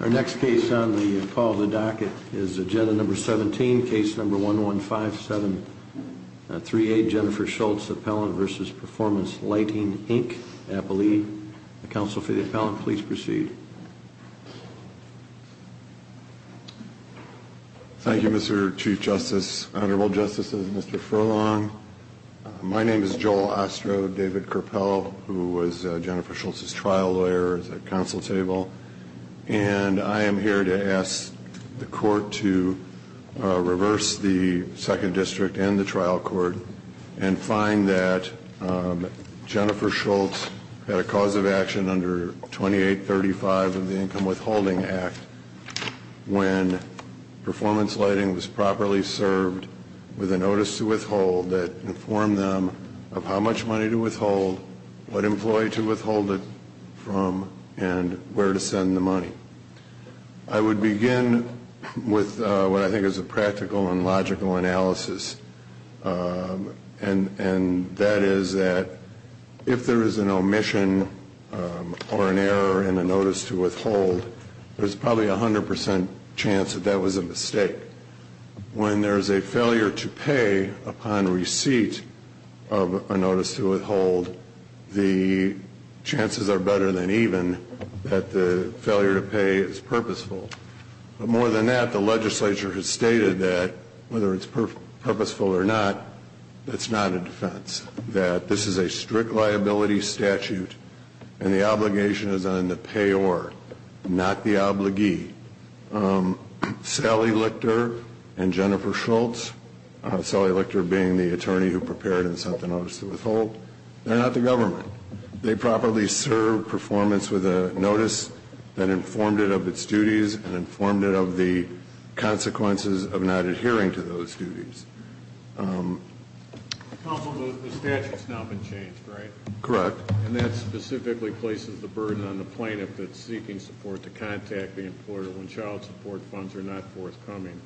Our next case on the call of the docket is agenda number 17, case number 115738, Jennifer Schultz, appellant v. Performance Lighting, Inc., Appalachia. Counsel for the appellant, please proceed. Thank you, Mr. Chief Justice, Honorable Justices, Mr. Furlong. My name is Joel Ostro, David Kerpel, who was Jennifer Schultz's trial lawyer at the council table. And I am here to ask the court to reverse the second district and the trial court and find that Jennifer Schultz had a cause of action under 2835 of the Income Withholding Act when performance lighting was properly served with a notice to withhold that informed them of how much money to withhold, what employee to withhold it from, and where to send the money. I would begin with what I think is a practical and logical analysis. And that is that if there is an omission or an error in a notice to withhold, there's probably a 100% chance that that was a mistake. When there's a failure to pay upon receipt of a notice to withhold, the chances are better than even that the failure to pay is purposeful. But more than that, the legislature has stated that whether it's purposeful or not, that's not a defense. That this is a strict liability statute and the obligation is on the payor, not the obligee. Sally Lichter and Jennifer Schultz, Sally Lichter being the attorney who prepared and sent the notice to withhold, they're not the government. They properly served performance with a notice that informed it of its duties and informed it of the consequences of not adhering to those duties. Counsel, the statute's now been changed, right? Correct. And that specifically places the burden on the plaintiff that's seeking support to contact the employer when child support funds are not forthcoming.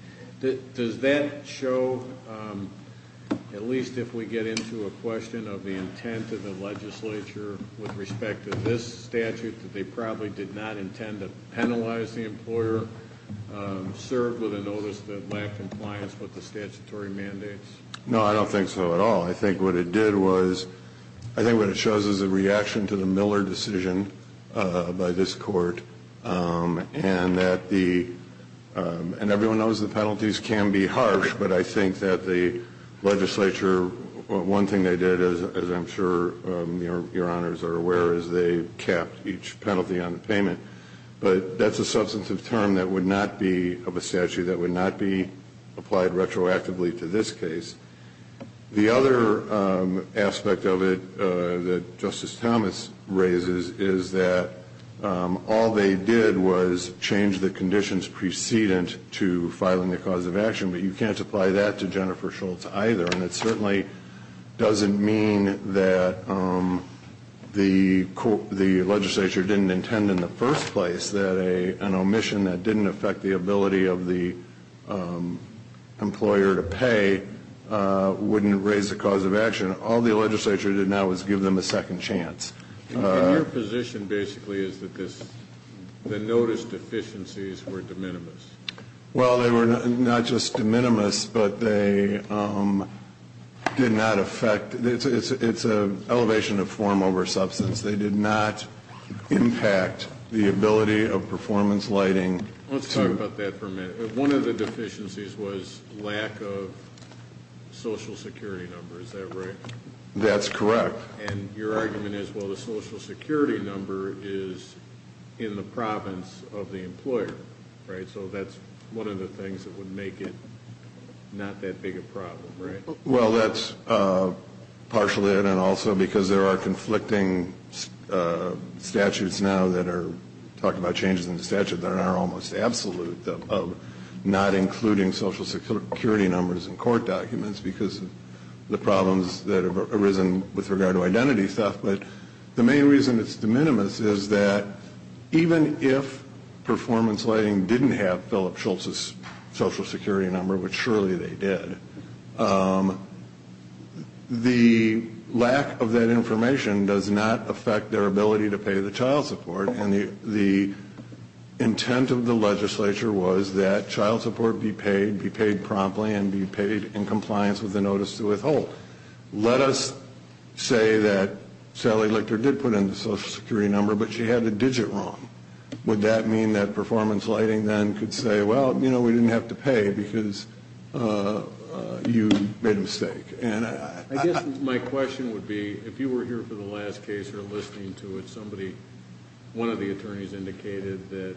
Does that show, at least if we get into a question of the intent of the legislature with respect to this statute, that they probably did not intend to penalize the employer, served with a notice that lacked compliance with the statutory mandates? No, I don't think so at all. I think what it did was, I think what it shows is a reaction to the Miller decision by this court. And that the, and everyone knows the penalties can be harsh, but I think that the legislature, one thing they did, as I'm sure your honors are aware, is they capped each penalty on the payment. But that's a substantive term that would not be of a statute, that would not be applied retroactively to this case. The other aspect of it that Justice Thomas raises is that all they did was change the conditions precedent to filing the cause of action. But you can't apply that to Jennifer Schultz either. And it certainly doesn't mean that the legislature didn't intend in the first place that an omission that didn't affect the ability of the employer to pay wouldn't raise the cause of action. All the legislature did now was give them a second chance. And your position basically is that the notice deficiencies were de minimis? Well, they were not just de minimis, but they did not affect, it's an elevation of form over substance. They did not impact the ability of performance lighting. Let's talk about that for a minute. One of the deficiencies was lack of social security number, is that right? That's correct. And your argument is, well, the social security number is in the province of the employer, right? So that's one of the things that would make it not that big a problem, right? Well, that's partially it. And also because there are conflicting statutes now that are talking about changes in the statute that are almost absolute of not including social security numbers in court documents because of the problems that have arisen with regard to identity stuff. But the main reason it's de minimis is that even if performance lighting didn't have Philip Schultz's social security number, which surely they did, the lack of that information does not affect their ability to pay the child support. And the intent of the legislature was that child support be paid, be paid promptly, and be paid in compliance with the notice to withhold. Let us say that Sally Lichter did put in the social security number, but she had the digit wrong. Would that mean that performance lighting then could say, well, you know, we didn't have to pay because you made a mistake? And I guess my question would be, if you were here for the last case or listening to it, somebody, one of the attorneys indicated that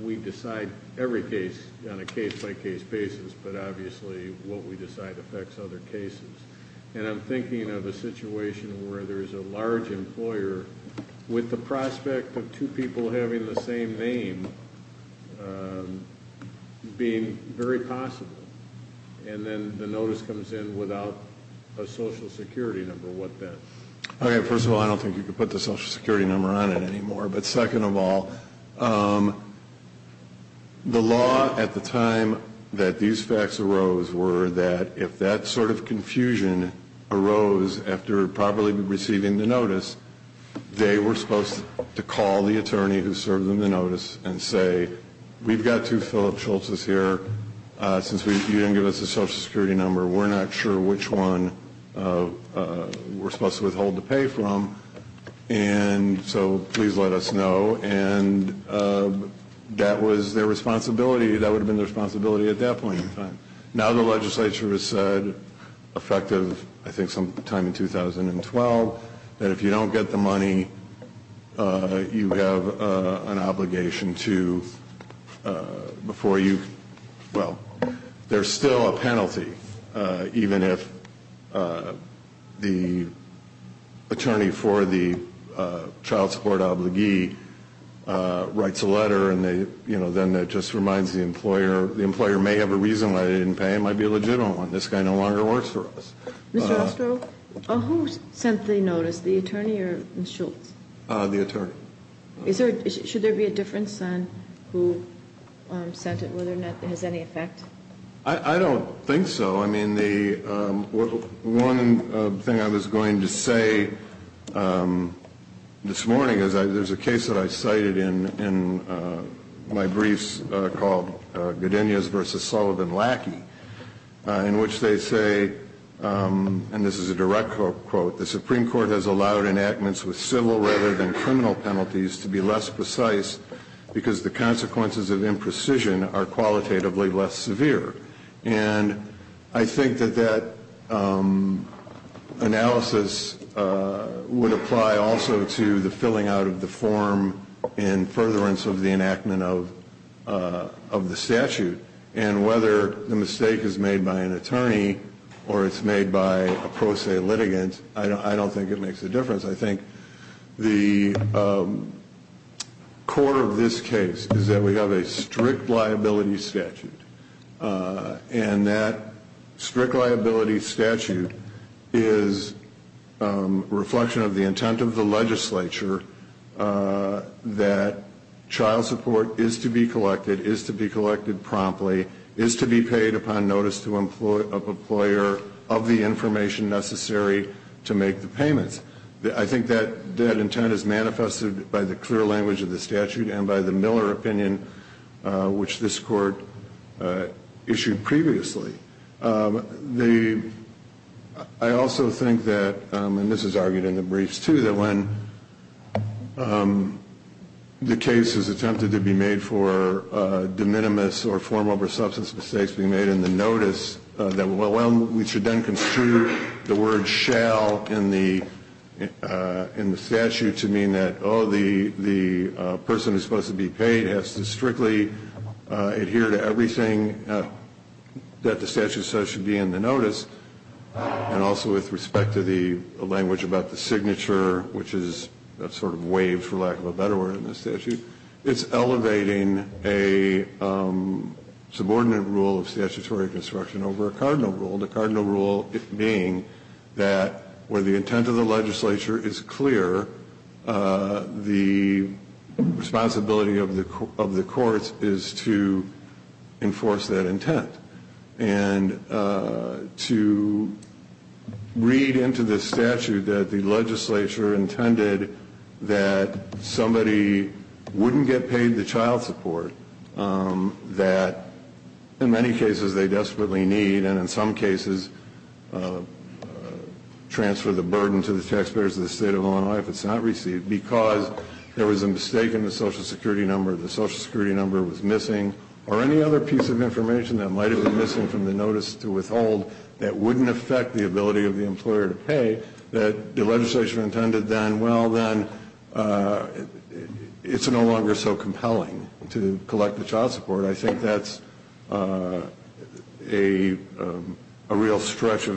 we decide every case on a case-by-case basis, but obviously what we decide affects other cases. And I'm thinking of a situation where there's a large employer with the prospect of two people having the same name being very possible. And then the notice comes in without a social security number. What then? Okay. First of all, I don't think you could put the social security number on it anymore. But second of all, the law at the time that these facts arose were that if that sort of confusion arose after properly receiving the notice, they were supposed to call the attorney who served them the notice and say, we've got two Phillip Schultzes here. Since you didn't give us a social security number, we're not sure which one we're supposed to withhold the pay from. And so please let us know. And that was their responsibility. That would have been their responsibility at that point in time. Now the legislature has said, effective I think sometime in 2012, that if you don't get the money, you have an obligation to, before you, well, there's still a penalty. Even if the attorney for the child support obligee writes a letter and then that just reminds the employer, the employer may have a reason why they didn't pay him. It might be a legitimate one. This guy no longer works for us. Mr. Ostrow, who sent the notice, the attorney or Mr. Schultz? The attorney. Should there be a difference on who sent it, whether or not it has any effect? I don't think so. I mean, the one thing I was going to say this morning is there's a case that I cited in my briefs called Godinez v. Sullivan-Lackey, in which they say, and this is a direct quote, the Supreme Court has allowed enactments with civil rather than criminal penalties to be less precise because the consequences of imprecision are qualitatively less severe. And I think that that analysis would apply also to the filling out of the form and furtherance of the enactment of the statute. And whether the mistake is made by an attorney or it's made by a pro se litigant, I don't think it makes a difference. I think the core of this case is that we have a strict liability statute, and that strict liability statute is a reflection of the intent of the legislature that child support is to be collected, is to be collected promptly, is to be paid upon notice to an employer of the information necessary to make the payments. I think that intent is manifested by the clear language of the statute and by the Miller opinion, which this court issued previously. I also think that, and this is argued in the briefs too, that when the case is attempted to be made for de minimis or formal substance mistakes being made in the notice, that we should then construe the word shall in the statute to mean that, while the person who is supposed to be paid has to strictly adhere to everything that the statute says should be in the notice, and also with respect to the language about the signature, which is sort of waived, for lack of a better word, in the statute, it's elevating a subordinate rule of statutory construction over a cardinal rule, the cardinal rule being that where the intent of the legislature is clear, the responsibility of the courts is to enforce that intent. And to read into the statute that the legislature intended that somebody wouldn't get paid the child support, that in many cases they desperately need, and in some cases transfer the burden to the taxpayers of the state of Illinois if it's not received, because there was a mistake in the social security number, the social security number was missing, or any other piece of information that might have been missing from the notice to withhold that wouldn't affect the ability of the employer to pay, that the legislature intended then, well, then it's no longer so compelling to collect the child support. I think that's a real stretch of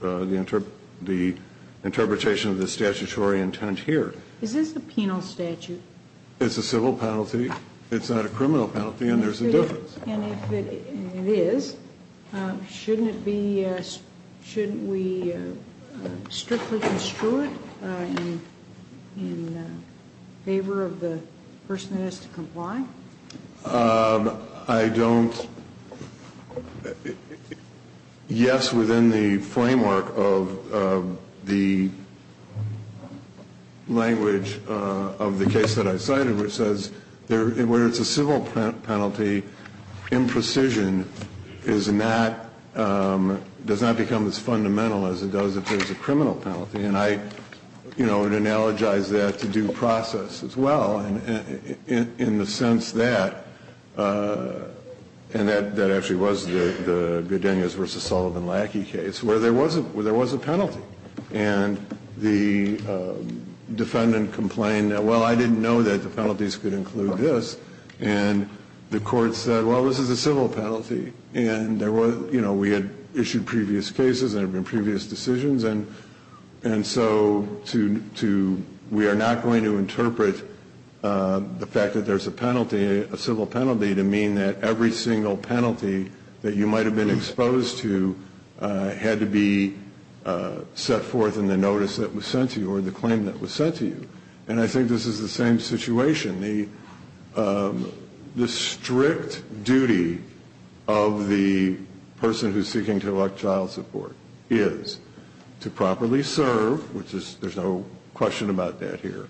the interpretation of the statutory intent here. Is this a penal statute? It's a civil penalty. It's not a criminal penalty, and there's a difference. And if it is, shouldn't we strictly construe it in favor of the person who has to comply? I don't. Yes, within the framework of the language of the case that I cited, which says where it's a civil penalty, imprecision does not become as fundamental as it does if there's a criminal penalty. And I, you know, would analogize that to due process as well, in the sense that, and that actually was the Goodenius v. Sullivan Lackey case, where there was a penalty. And the defendant complained that, well, I didn't know that the penalties could include this. And the court said, well, this is a civil penalty. And, you know, we had issued previous cases and there have been previous decisions. And so we are not going to interpret the fact that there's a penalty, a civil penalty, to mean that every single penalty that you might have been exposed to had to be set forth in the notice that was sent to you or the claim that was sent to you. And I think this is the same situation. The strict duty of the person who's seeking to elect child support is to properly serve, which there's no question about that here,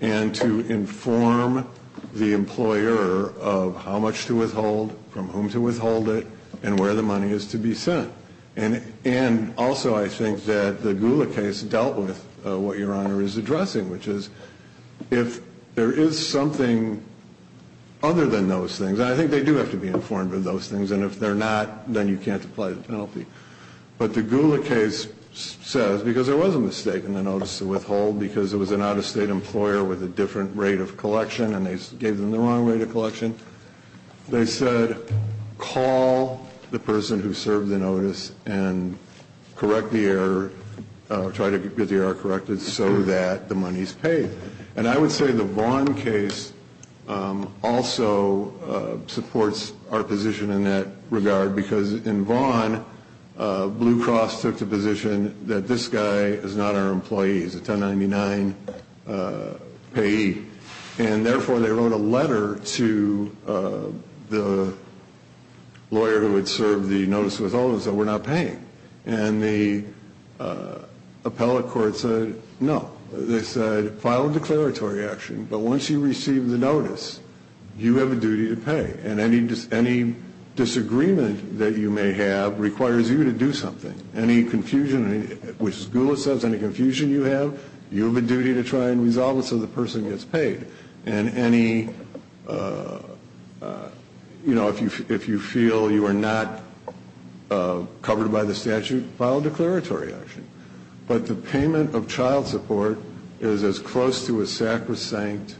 and to inform the employer of how much to withhold, from whom to withhold it, and where the money is to be sent. And also I think that the Gula case dealt with what Your Honor is addressing, which is if there is something other than those things, and I think they do have to be informed of those things, and if they're not, then you can't apply the penalty. But the Gula case says, because there was a mistake in the notice to withhold, because it was an out-of-state employer with a different rate of collection and they gave them the wrong rate of collection, they said call the person who served the notice and correct the error, or try to get the error corrected, so that the money is paid. And I would say the Vaughn case also supports our position in that regard, because in Vaughn, Blue Cross took the position that this guy is not our employee. He's a 1099 payee. And therefore they wrote a letter to the lawyer who had served the notice withholding and said we're not paying. And the appellate court said no. They said file a declaratory action, but once you receive the notice, you have a duty to pay. And any disagreement that you may have requires you to do something. Any confusion, which as Gula says, any confusion you have, you have a duty to try and resolve it so the person gets paid. And any, you know, if you feel you are not covered by the statute, file a declaratory action. But the payment of child support is as close to a sacrosanct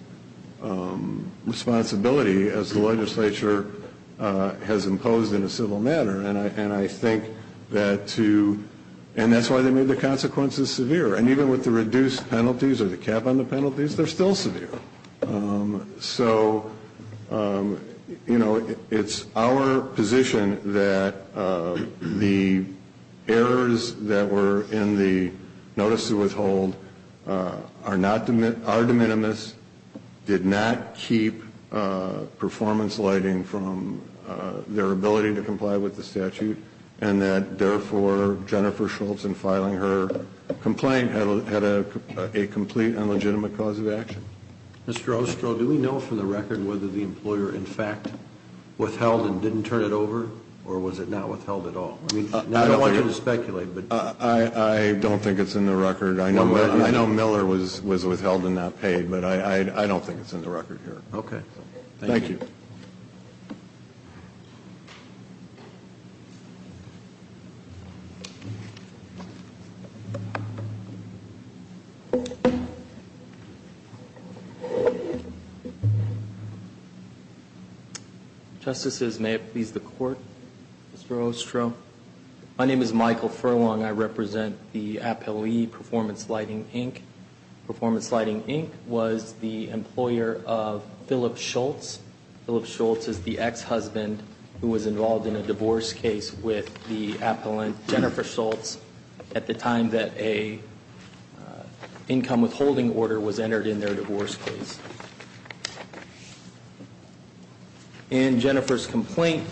responsibility as the legislature has imposed in a civil matter. And I think that to, and that's why they made the consequences severe. And even with the reduced penalties or the cap on the penalties, they're still severe. So, you know, it's our position that the errors that were in the notice to withhold are not, are de minimis, did not keep performance lighting from their ability to comply with the statute, and that therefore Jennifer Schultz in filing her complaint had a complete and legitimate cause of action. Mr. Ostro, do we know for the record whether the employer in fact withheld and didn't turn it over, or was it not withheld at all? I don't want you to speculate, but. I don't think it's in the record. I know Miller was withheld and not paid, but I don't think it's in the record here. Okay. Thank you. Thank you. Justices, may it please the Court, Mr. Ostro. My name is Michael Furlong. I represent the appellee Performance Lighting, Inc. Performance Lighting, Inc. was the employer of Philip Schultz. Philip Schultz is the ex-husband who was involved in a divorce case with the appellant Jennifer Schultz at the time that a income withholding order was entered in their divorce case. In Jennifer's complaint,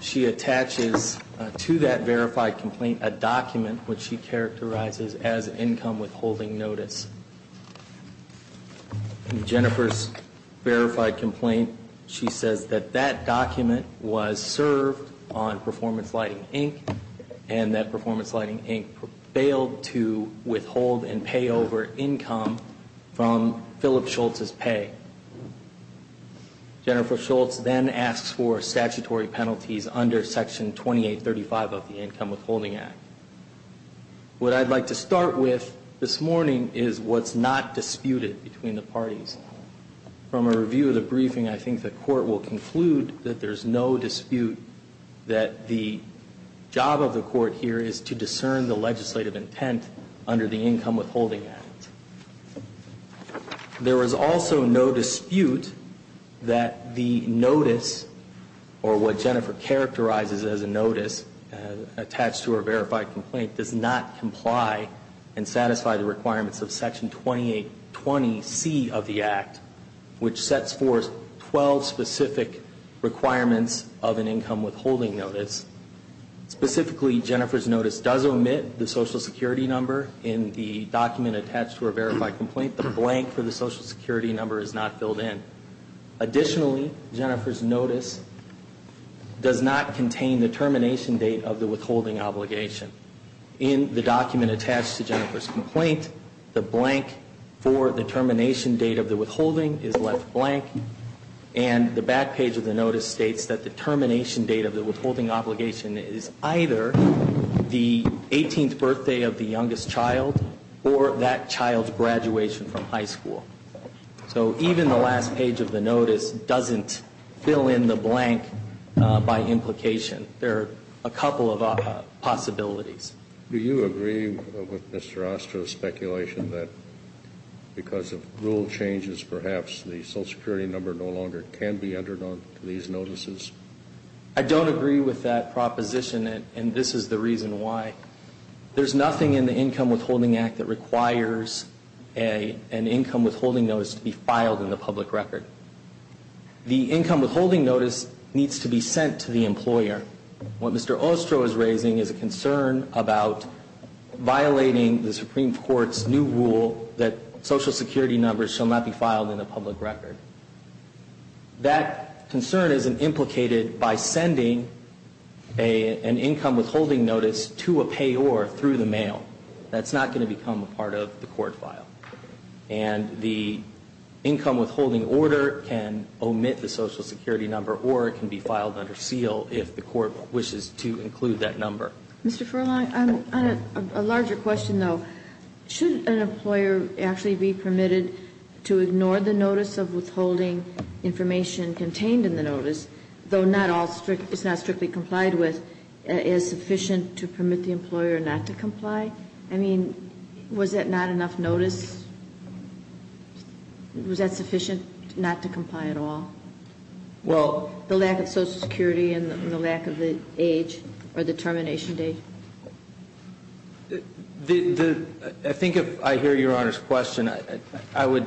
she attaches to that verified complaint a document which she characterizes as income withholding notice. In Jennifer's verified complaint, she says that that document was served on Performance Lighting, Inc. and that Performance Lighting, Inc. failed to withhold and pay over income from Philip Schultz's pay. Jennifer Schultz then asks for statutory penalties under Section 2835 of the Income Withholding Act. What I'd like to start with this morning is what's not disputed between the parties. From a review of the briefing, I think the Court will conclude that there's no dispute that the job of the Court here is to discern the legislative intent under the Income Withholding Act. There is also no dispute that the notice, or what Jennifer characterizes as a notice, attached to her verified complaint does not comply and satisfy the requirements of Section 2820C of the Act, which sets forth 12 specific requirements of an income withholding notice. Specifically, Jennifer's notice does omit the Social Security number in the document attached to her verified complaint. The blank for the Social Security number is not filled in. Additionally, Jennifer's notice does not contain the termination date of the withholding obligation. In the document attached to Jennifer's complaint, the blank for the termination date of the withholding is left blank, and the back page of the notice states that the termination date of the withholding obligation is either the 18th birthday of the youngest child or that child's graduation from high school. So even the last page of the notice doesn't fill in the blank by implication. There are a couple of possibilities. Do you agree with Mr. Ostrow's speculation that because of rule changes, perhaps the Social Security number no longer can be entered onto these notices? I don't agree with that proposition, and this is the reason why. There's nothing in the Income Withholding Act that requires an income withholding notice to be filed in the public record. The income withholding notice needs to be sent to the employer. What Mr. Ostrow is raising is a concern about violating the Supreme Court's new rule that Social Security numbers shall not be filed in the public record. That concern isn't implicated by sending an income withholding notice to a payor through the mail. That's not going to become a part of the court file. And the income withholding order can omit the Social Security number or it can be filed under seal if the court wishes to include that number. Mr. Furlong, on a larger question, though, should an employer actually be permitted to ignore the notice of withholding information contained in the notice, though it's not strictly complied with, is sufficient to permit the employer not to comply? I mean, was that not enough notice? Was that sufficient not to comply at all? Well, the lack of Social Security and the lack of the age or the termination date? I think if I hear Your Honor's question, I would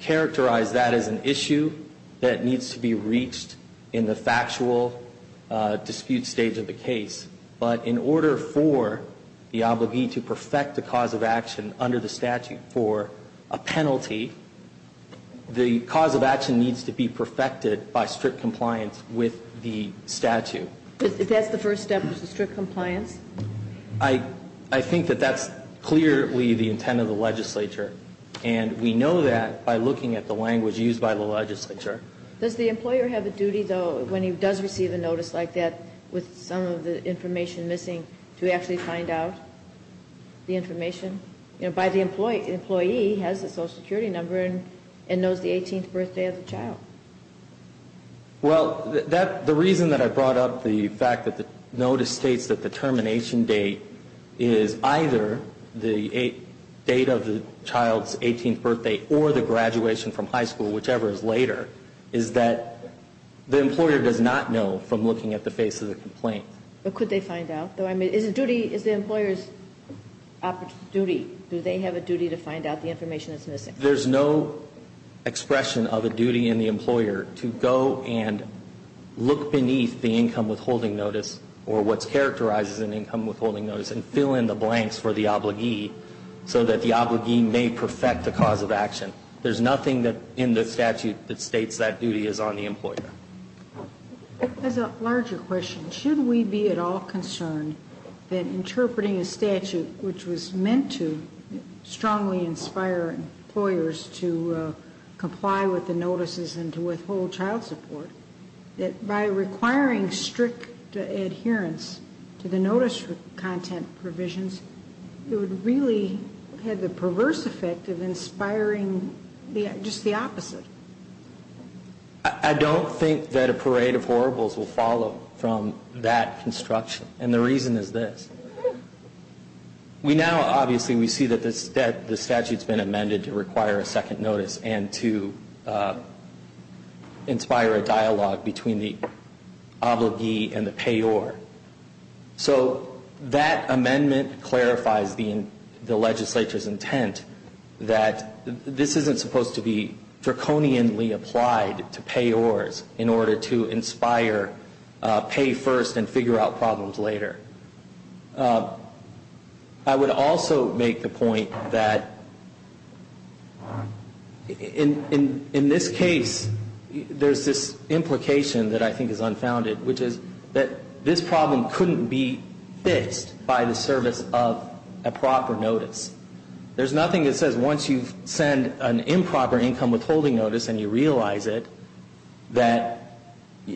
characterize that as an issue that needs to be reached in the factual dispute stage of the case. But in order for the obligee to perfect the cause of action under the statute for a penalty, the cause of action needs to be perfected by strict compliance with the statute. If that's the first step, is it strict compliance? I think that that's clearly the intent of the legislature. And we know that by looking at the language used by the legislature. Does the employer have a duty, though, when he does receive a notice like that, with some of the information missing, to actually find out the information? You know, the employee has the Social Security number and knows the 18th birthday of the child. Well, the reason that I brought up the fact that the notice states that the termination date is either the date of the child's 18th birthday or the graduation from high school, whichever is later, is that the employer does not know from looking at the face of the complaint. But could they find out? Is the employer's duty, do they have a duty to find out the information that's missing? There's no expression of a duty in the employer to go and look beneath the income withholding notice or what's characterized as an income withholding notice and fill in the blanks for the obligee so that the obligee may perfect the cause of action. There's nothing in the statute that states that duty is on the employer. As a larger question, should we be at all concerned that interpreting a statute which was meant to strongly inspire employers to comply with the notices and to withhold child support, that by requiring strict adherence to the notice content provisions, it would really have the perverse effect of inspiring just the opposite? I don't think that a parade of horribles will follow from that construction. And the reason is this. We now, obviously, we see that the statute's been amended to require a second notice and to inspire a dialogue between the obligee and the payor. So that amendment clarifies the legislature's intent that this isn't supposed to be draconianly applied to payors in order to inspire pay first and figure out problems later. I would also make the point that in this case, there's this implication that I think is unfounded, which is that this problem couldn't be fixed by the service of a proper notice. There's nothing that says once you send an improper income withholding notice and you realize it, that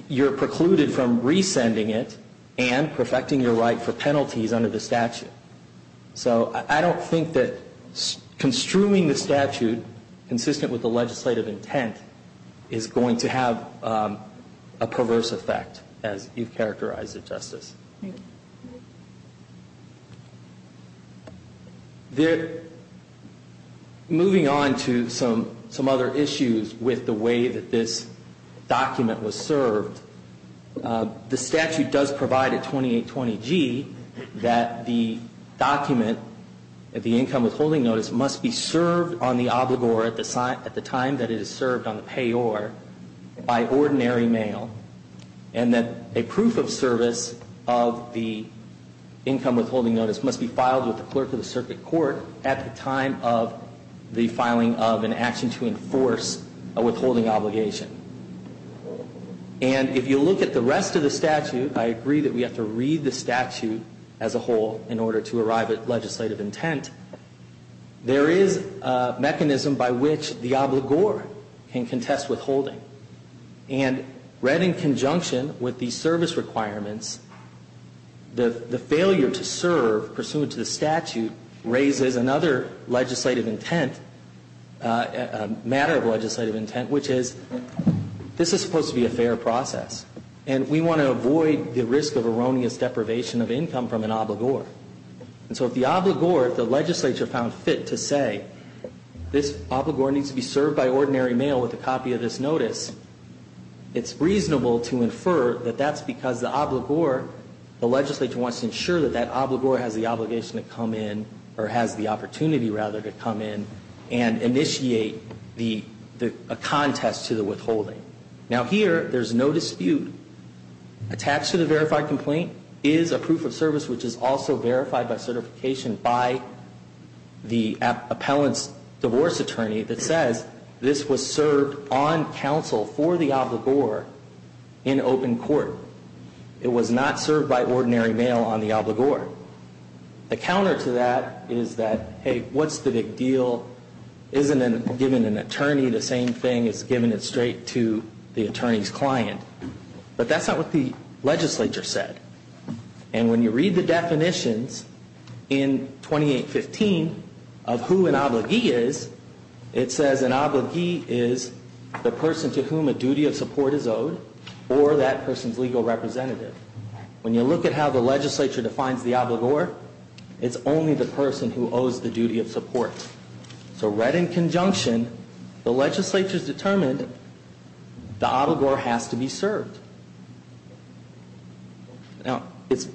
you're precluded from resending it and perfecting your right for penalties under the statute. So I don't think that construing the statute consistent with the legislative intent is going to have a perverse effect, as you've characterized it, Justice. Moving on to some other issues with the way that this document was served, the statute does provide at 2820G that the document, the income withholding notice, must be served on the obligor at the time that it is served on the payor by ordinary mail, and that a proof of service of the income withholding notice must be filed with the clerk of the circuit court at the time of the filing of an action to enforce a withholding obligation. And if you look at the rest of the statute, I agree that we have to read the statute as a whole in order to arrive at legislative intent. There is a mechanism by which the obligor can contest withholding. And read in conjunction with the service requirements, the failure to serve pursuant to the statute raises another legislative intent, a matter of legislative intent, which is, this is supposed to be a fair process, and we want to avoid the risk of erroneous deprivation of income from an obligor. And so if the obligor, if the legislature found fit to say, this obligor needs to be served by ordinary mail with a copy of this notice, it's reasonable to infer that that's because the obligor, the legislature wants to ensure that that obligor has the obligation to come in, or has the opportunity, rather, to come in and initiate a contest to the withholding. Now here, there's no dispute. Attached to the verified complaint is a proof of service which is also verified by certification by the appellant's divorce attorney that says, this was served on counsel for the obligor in open court. It was not served by ordinary mail on the obligor. The counter to that is that, hey, what's the big deal? Isn't giving an attorney the same thing as giving it straight to the attorney's client? But that's not what the legislature said. And when you read the definitions in 2815 of who an obligee is, it says an obligee is the person to whom a duty of support is owed, or that person's legal representative. When you look at how the legislature defines the obligor, it's only the person who owes the duty of support. So read in conjunction, the legislature's determined the obligor has to be served. Now, it's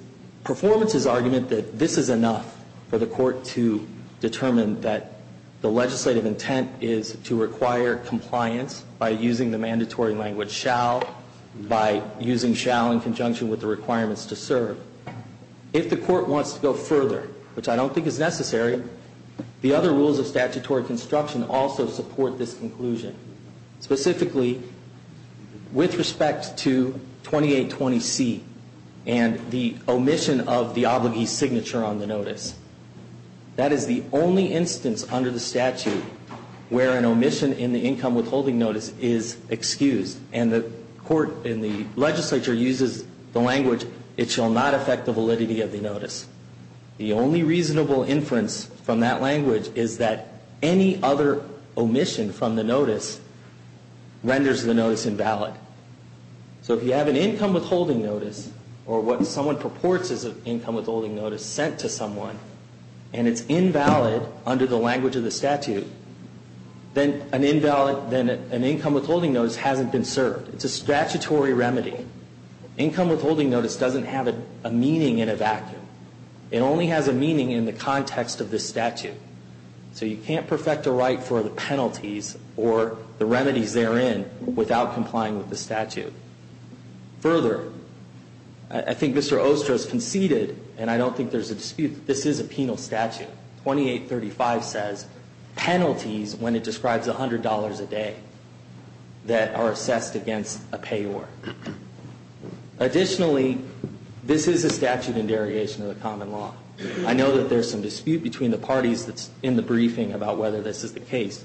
performance's argument that this is enough for the court to determine that the legislative intent is to require compliance by using the mandatory language shall, by using shall in conjunction with the requirements to serve. If the court wants to go further, which I don't think is necessary, the other rules of statutory construction also support this conclusion. Specifically, with respect to 2820C and the omission of the obligee's signature on the notice, that is the only instance under the statute where an omission in the income withholding notice is excused. And the court in the legislature uses the language it shall not affect the validity of the notice. The only reasonable inference from that language is that any other omission from the notice renders the notice invalid. So if you have an income withholding notice, or what someone purports is an income withholding notice sent to someone, and it's invalid under the language of the statute, then an income withholding notice hasn't been served. It's a statutory remedy. Income withholding notice doesn't have a meaning in a vacuum. It only has a meaning in the context of the statute. So you can't perfect a right for the penalties or the remedies therein without complying with the statute. Further, I think Mr. Ostro's conceded, and I don't think there's a dispute, that this is a penal statute. Section 2835 says penalties when it describes $100 a day that are assessed against a payor. Additionally, this is a statute in derogation of the common law. I know that there's some dispute between the parties that's in the briefing about whether this is the case.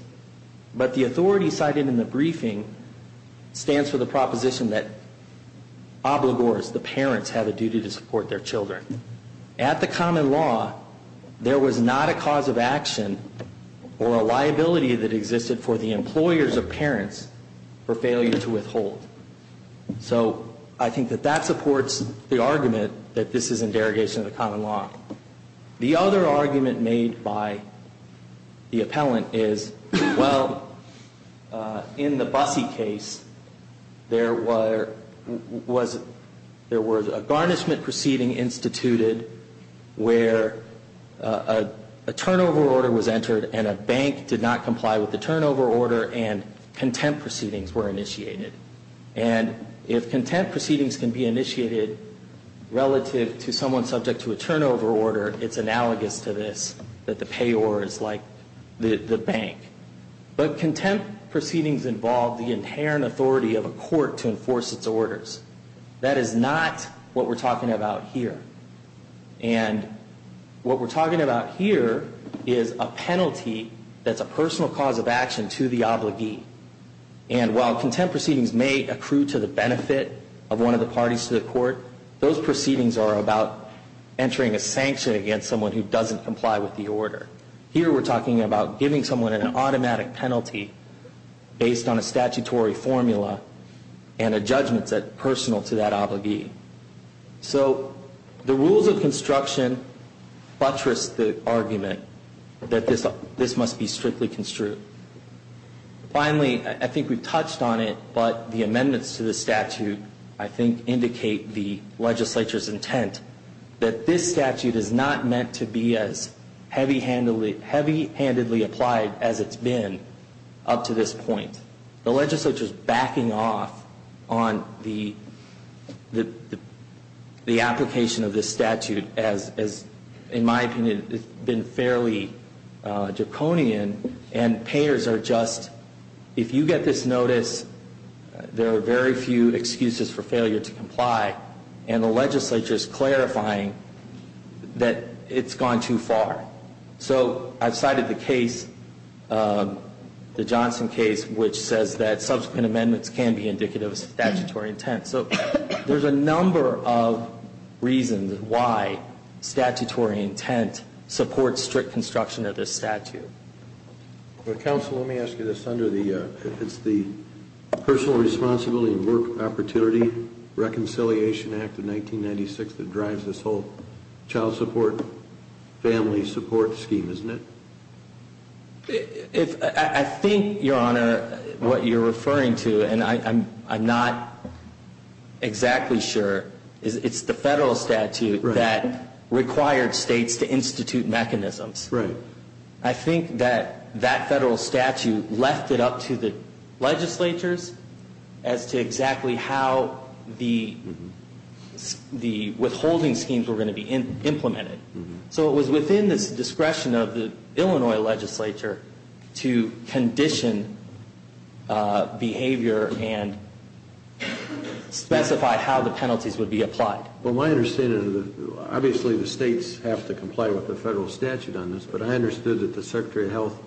But the authority cited in the briefing stands for the proposition that obligors, the parents, have a duty to support their children. At the common law, there was not a cause of action or a liability that existed for the employers or parents for failure to withhold. So I think that that supports the argument that this is in derogation of the common law. The other argument made by the appellant is, well, in the Busse case, there was a garnishment proceeding instituted where a turnover order was entered and a bank did not comply with the turnover order and contempt proceedings were initiated. And if contempt proceedings can be initiated relative to someone subject to a turnover order, it's analogous to this, that the payor is like the bank. But contempt proceedings involve the inherent authority of a court to enforce its orders. That is not what we're talking about here. And what we're talking about here is a penalty that's a personal cause of action to the obligee. And while contempt proceedings may accrue to the benefit of one of the parties to the court, those proceedings are about entering a sanction against someone who doesn't comply with the order. Here we're talking about giving someone an automatic penalty based on a statutory formula and a judgment that's personal to that obligee. So the rules of construction buttress the argument that this must be strictly construed. Finally, I think we touched on it, but the amendments to the statute, I think, indicate the legislature's intent that this statute is not meant to be as heavy-handedly applied as it's been up to this point. The legislature's backing off on the application of this statute as, in my opinion, it's been fairly draconian and painful. And the mayors are just, if you get this notice, there are very few excuses for failure to comply. And the legislature's clarifying that it's gone too far. So I've cited the case, the Johnson case, which says that subsequent amendments can be indicative of statutory intent. So there's a number of reasons why statutory intent supports strict construction of this statute. Counsel, let me ask you this, it's the Personal Responsibility and Work Opportunity Reconciliation Act of 1996 that drives this whole child support, family support scheme, isn't it? I think, Your Honor, what you're referring to, and I'm not exactly sure, is it's the federal statute that required states to institute mechanisms. I think that that federal statute left it up to the legislatures as to exactly how the withholding schemes were going to be implemented. So it was within the discretion of the Illinois legislature to condition behavior and specify how the penalties would be applied. Well, my understanding, obviously the states have to comply with the federal statute on this, but I understood that the Secretary of Health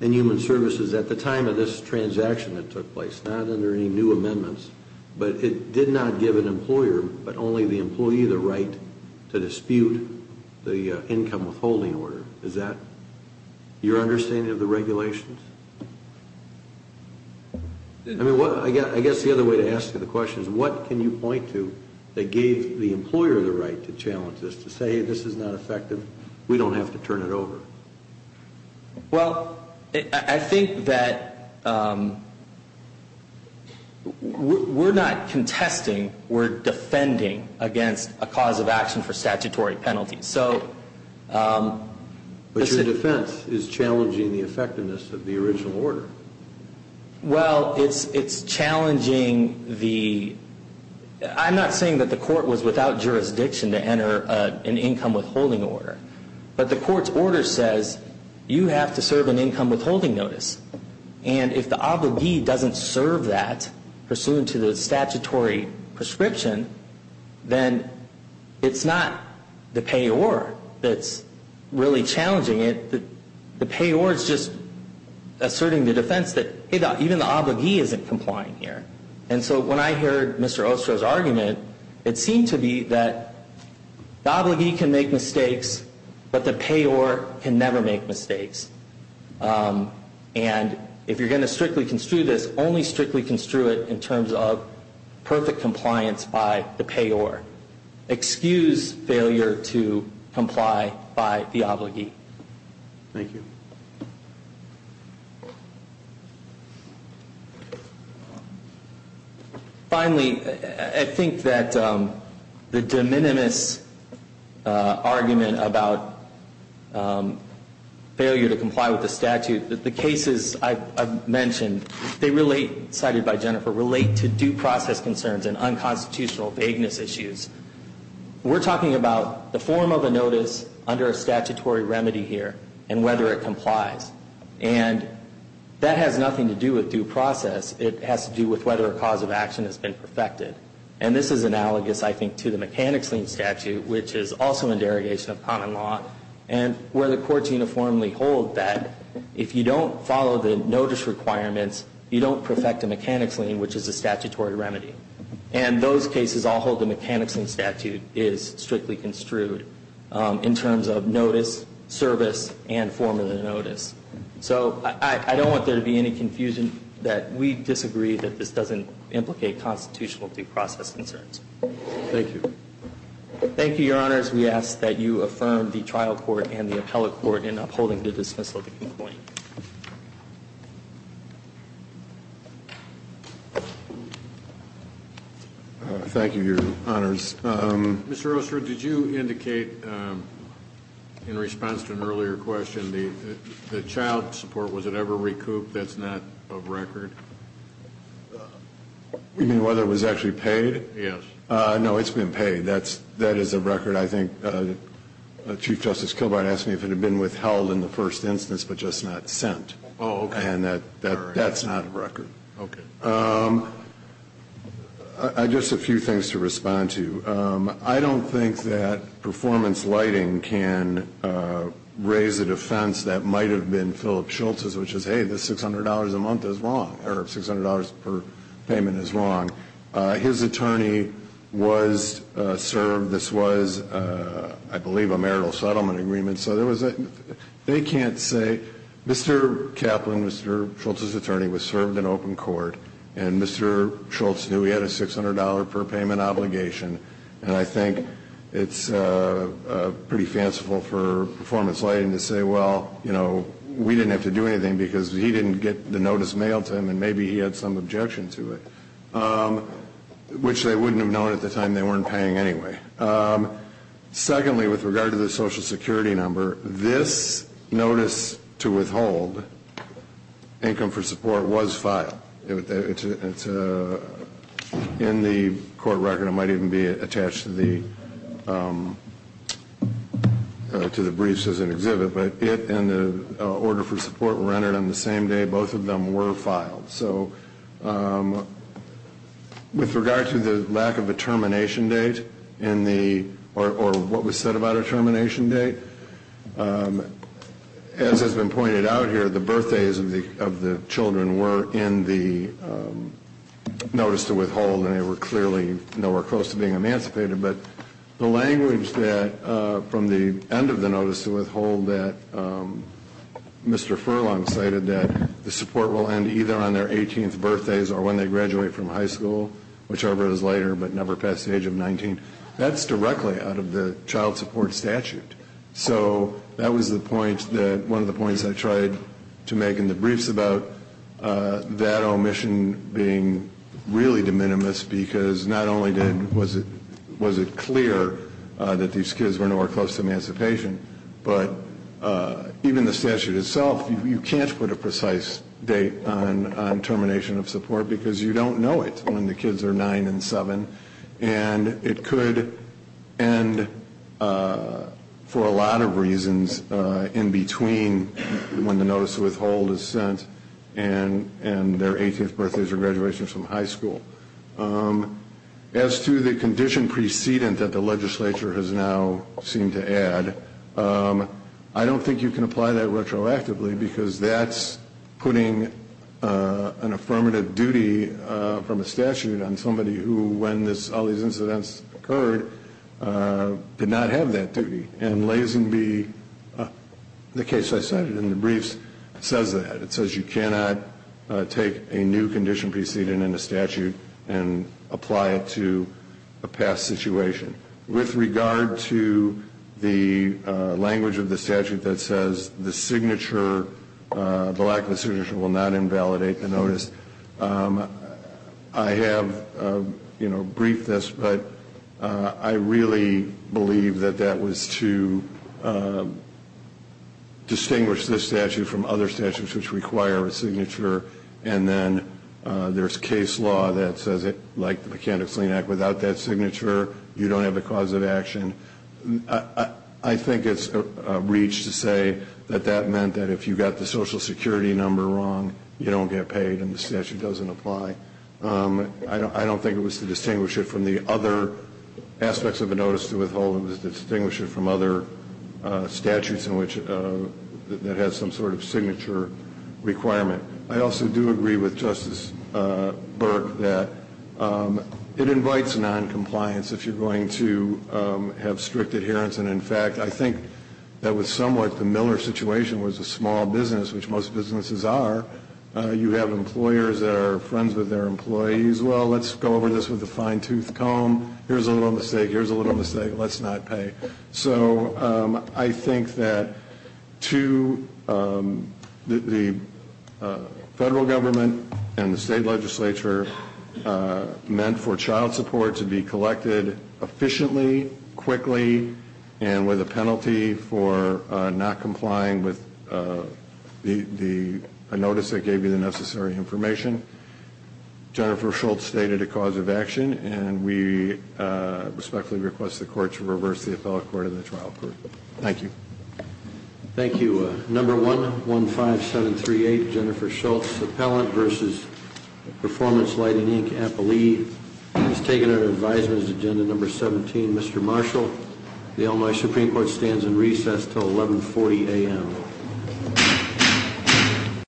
and Human Services at the time of this transaction that took place, not under any new amendments, but it did not give an employer but only the employee the right to dispute the income withholding order. Is that your understanding of the regulations? I mean, I guess the other way to ask you the question is what can you point to that gave the employer the right to challenge this, to say, hey, this is not effective, we don't have to turn it over? Well, I think that we're not contesting, we're defending against a cause of action for statutory penalties. But your defense is challenging the effectiveness of the original order. Well, it's challenging the, I'm not saying that the court was without jurisdiction to enter an income withholding order, but the court's order says you have to serve an income withholding notice, and if the obligee doesn't serve that pursuant to the statutory prescription, then it's not the payor that's really challenging it. The payor is just asserting the defense that, hey, even the obligee isn't complying here. And so when I heard Mr. Ostro's argument, it seemed to be that the obligee can make mistakes, but the payor can never make mistakes. And if you're going to strictly construe this, only strictly construe it in terms of perfect compliance by the payor. Excuse failure to comply by the obligee. Thank you. Finally, I think that the de minimis argument about failure to comply with statutory prescriptions, failure to comply with the statute, the cases I've mentioned, they relate, cited by Jennifer, relate to due process concerns and unconstitutional vagueness issues. We're talking about the form of a notice under a statutory remedy here and whether it complies. And that has nothing to do with due process. It has to do with whether a cause of action has been perfected. And this is analogous, I think, to the mechanics lien statute, which is also a derogation of common law, and where the courts uniformly hold that if you don't follow the notice requirements, you don't perfect a mechanics lien, which is a statutory remedy. And those cases all hold the mechanics lien statute is strictly construed in terms of notice, service, and form of the notice. So I don't want there to be any confusion that we disagree that this doesn't implicate constitutional due process concerns. Thank you. Thank you, Your Honors. We ask that you affirm the trial court and the appellate court in upholding the dismissal of the complaint. Thank you, Your Honors. Mr. Oster, did you indicate in response to an earlier question the child support, was it ever recouped, that's not a record? You mean whether it was actually paid? Yes. No, it's been paid. That is a record. I think Chief Justice Kilbride asked me if it had been withheld in the first instance, but just not sent. Oh, okay. And that's not a record. Okay. Just a few things to respond to. I don't think that performance lighting can raise a defense that might have been Philip Schultz's, which is, hey, the $600 a month is wrong, or $600 per payment is wrong. His attorney was served, this was, I believe, a marital settlement agreement, so they can't say. Mr. Kaplan, Mr. Schultz's attorney, was served in open court, and Mr. Schultz knew he had a $600 per payment obligation, and I think it's pretty fanciful for performance lighting to say, well, you know, we didn't have to do anything because he didn't get the notice mailed to him, and maybe he had some objection to it, which they wouldn't have known at the time. They weren't paying anyway. Secondly, with regard to the Social Security number, this notice to withhold income for support was filed. In the court record, it might even be attached to the briefs as an exhibit, but it and the order for support were entered on the same day both of them were filed. So with regard to the lack of a termination date, or what was said about a termination date, as has been pointed out here, the birthdays of the children were in the notice to withhold, and they were clearly nowhere close to being emancipated, but the language from the end of the notice to withhold that Mr. Furlong cited, that the support will end either on their 18th birthdays or when they graduate from high school, whichever is later but never past the age of 19, that's directly out of the child support statute. So that was one of the points I tried to make in the briefs about that omission being really de minimis because not only was it clear that these kids were nowhere close to emancipation, but even the statute itself, you can't put a precise date on termination of support because you don't know it when the kids are nine and seven, and it could end for a lot of reasons in between when the notice to withhold is sent and their 18th birthdays or graduations from high school. As to the condition precedent that the legislature has now seemed to add, I don't think you can apply that retroactively because that's putting an affirmative duty from a statute on somebody who, when all these incidents occurred, did not have that duty. And Lazingby, the case I cited in the briefs, says that. It says you cannot take a new condition precedent in a statute and apply it to a past situation. With regard to the language of the statute that says the lack of a signature will not invalidate the notice, I have briefed this, but I really believe that that was to distinguish this statute from other statutes which require a signature, and then there's case law that says it, like the Mechanics-Lean Act, without that signature, you don't have a cause of action. I think it's a breach to say that that meant that if you got the Social Security number wrong, you don't get paid and the statute doesn't apply. I don't think it was to distinguish it from the other aspects of a notice to withhold. It was to distinguish it from other statutes in which it has some sort of signature requirement. I also do agree with Justice Burke that it invites noncompliance if you're going to have strict adherence. And, in fact, I think that was somewhat the Miller situation was a small business, which most businesses are. You have employers that are friends with their employees. Well, let's go over this with a fine-tooth comb. Here's a little mistake. Here's a little mistake. Let's not pay. So I think that the federal government and the state legislature meant for child support to be collected efficiently, quickly, and with a penalty for not complying with a notice that gave you the necessary information. Jennifer Schultz stated a cause of action, and we respectfully request the court to reverse the appellate court and the trial court. Thank you. Thank you. Number 115738, Jennifer Schultz, appellant, versus Performance Lighting, Inc., appellee. He's taken under advisement as agenda number 17. Mr. Marshall, the Illinois Supreme Court stands in recess until 1140 a.m.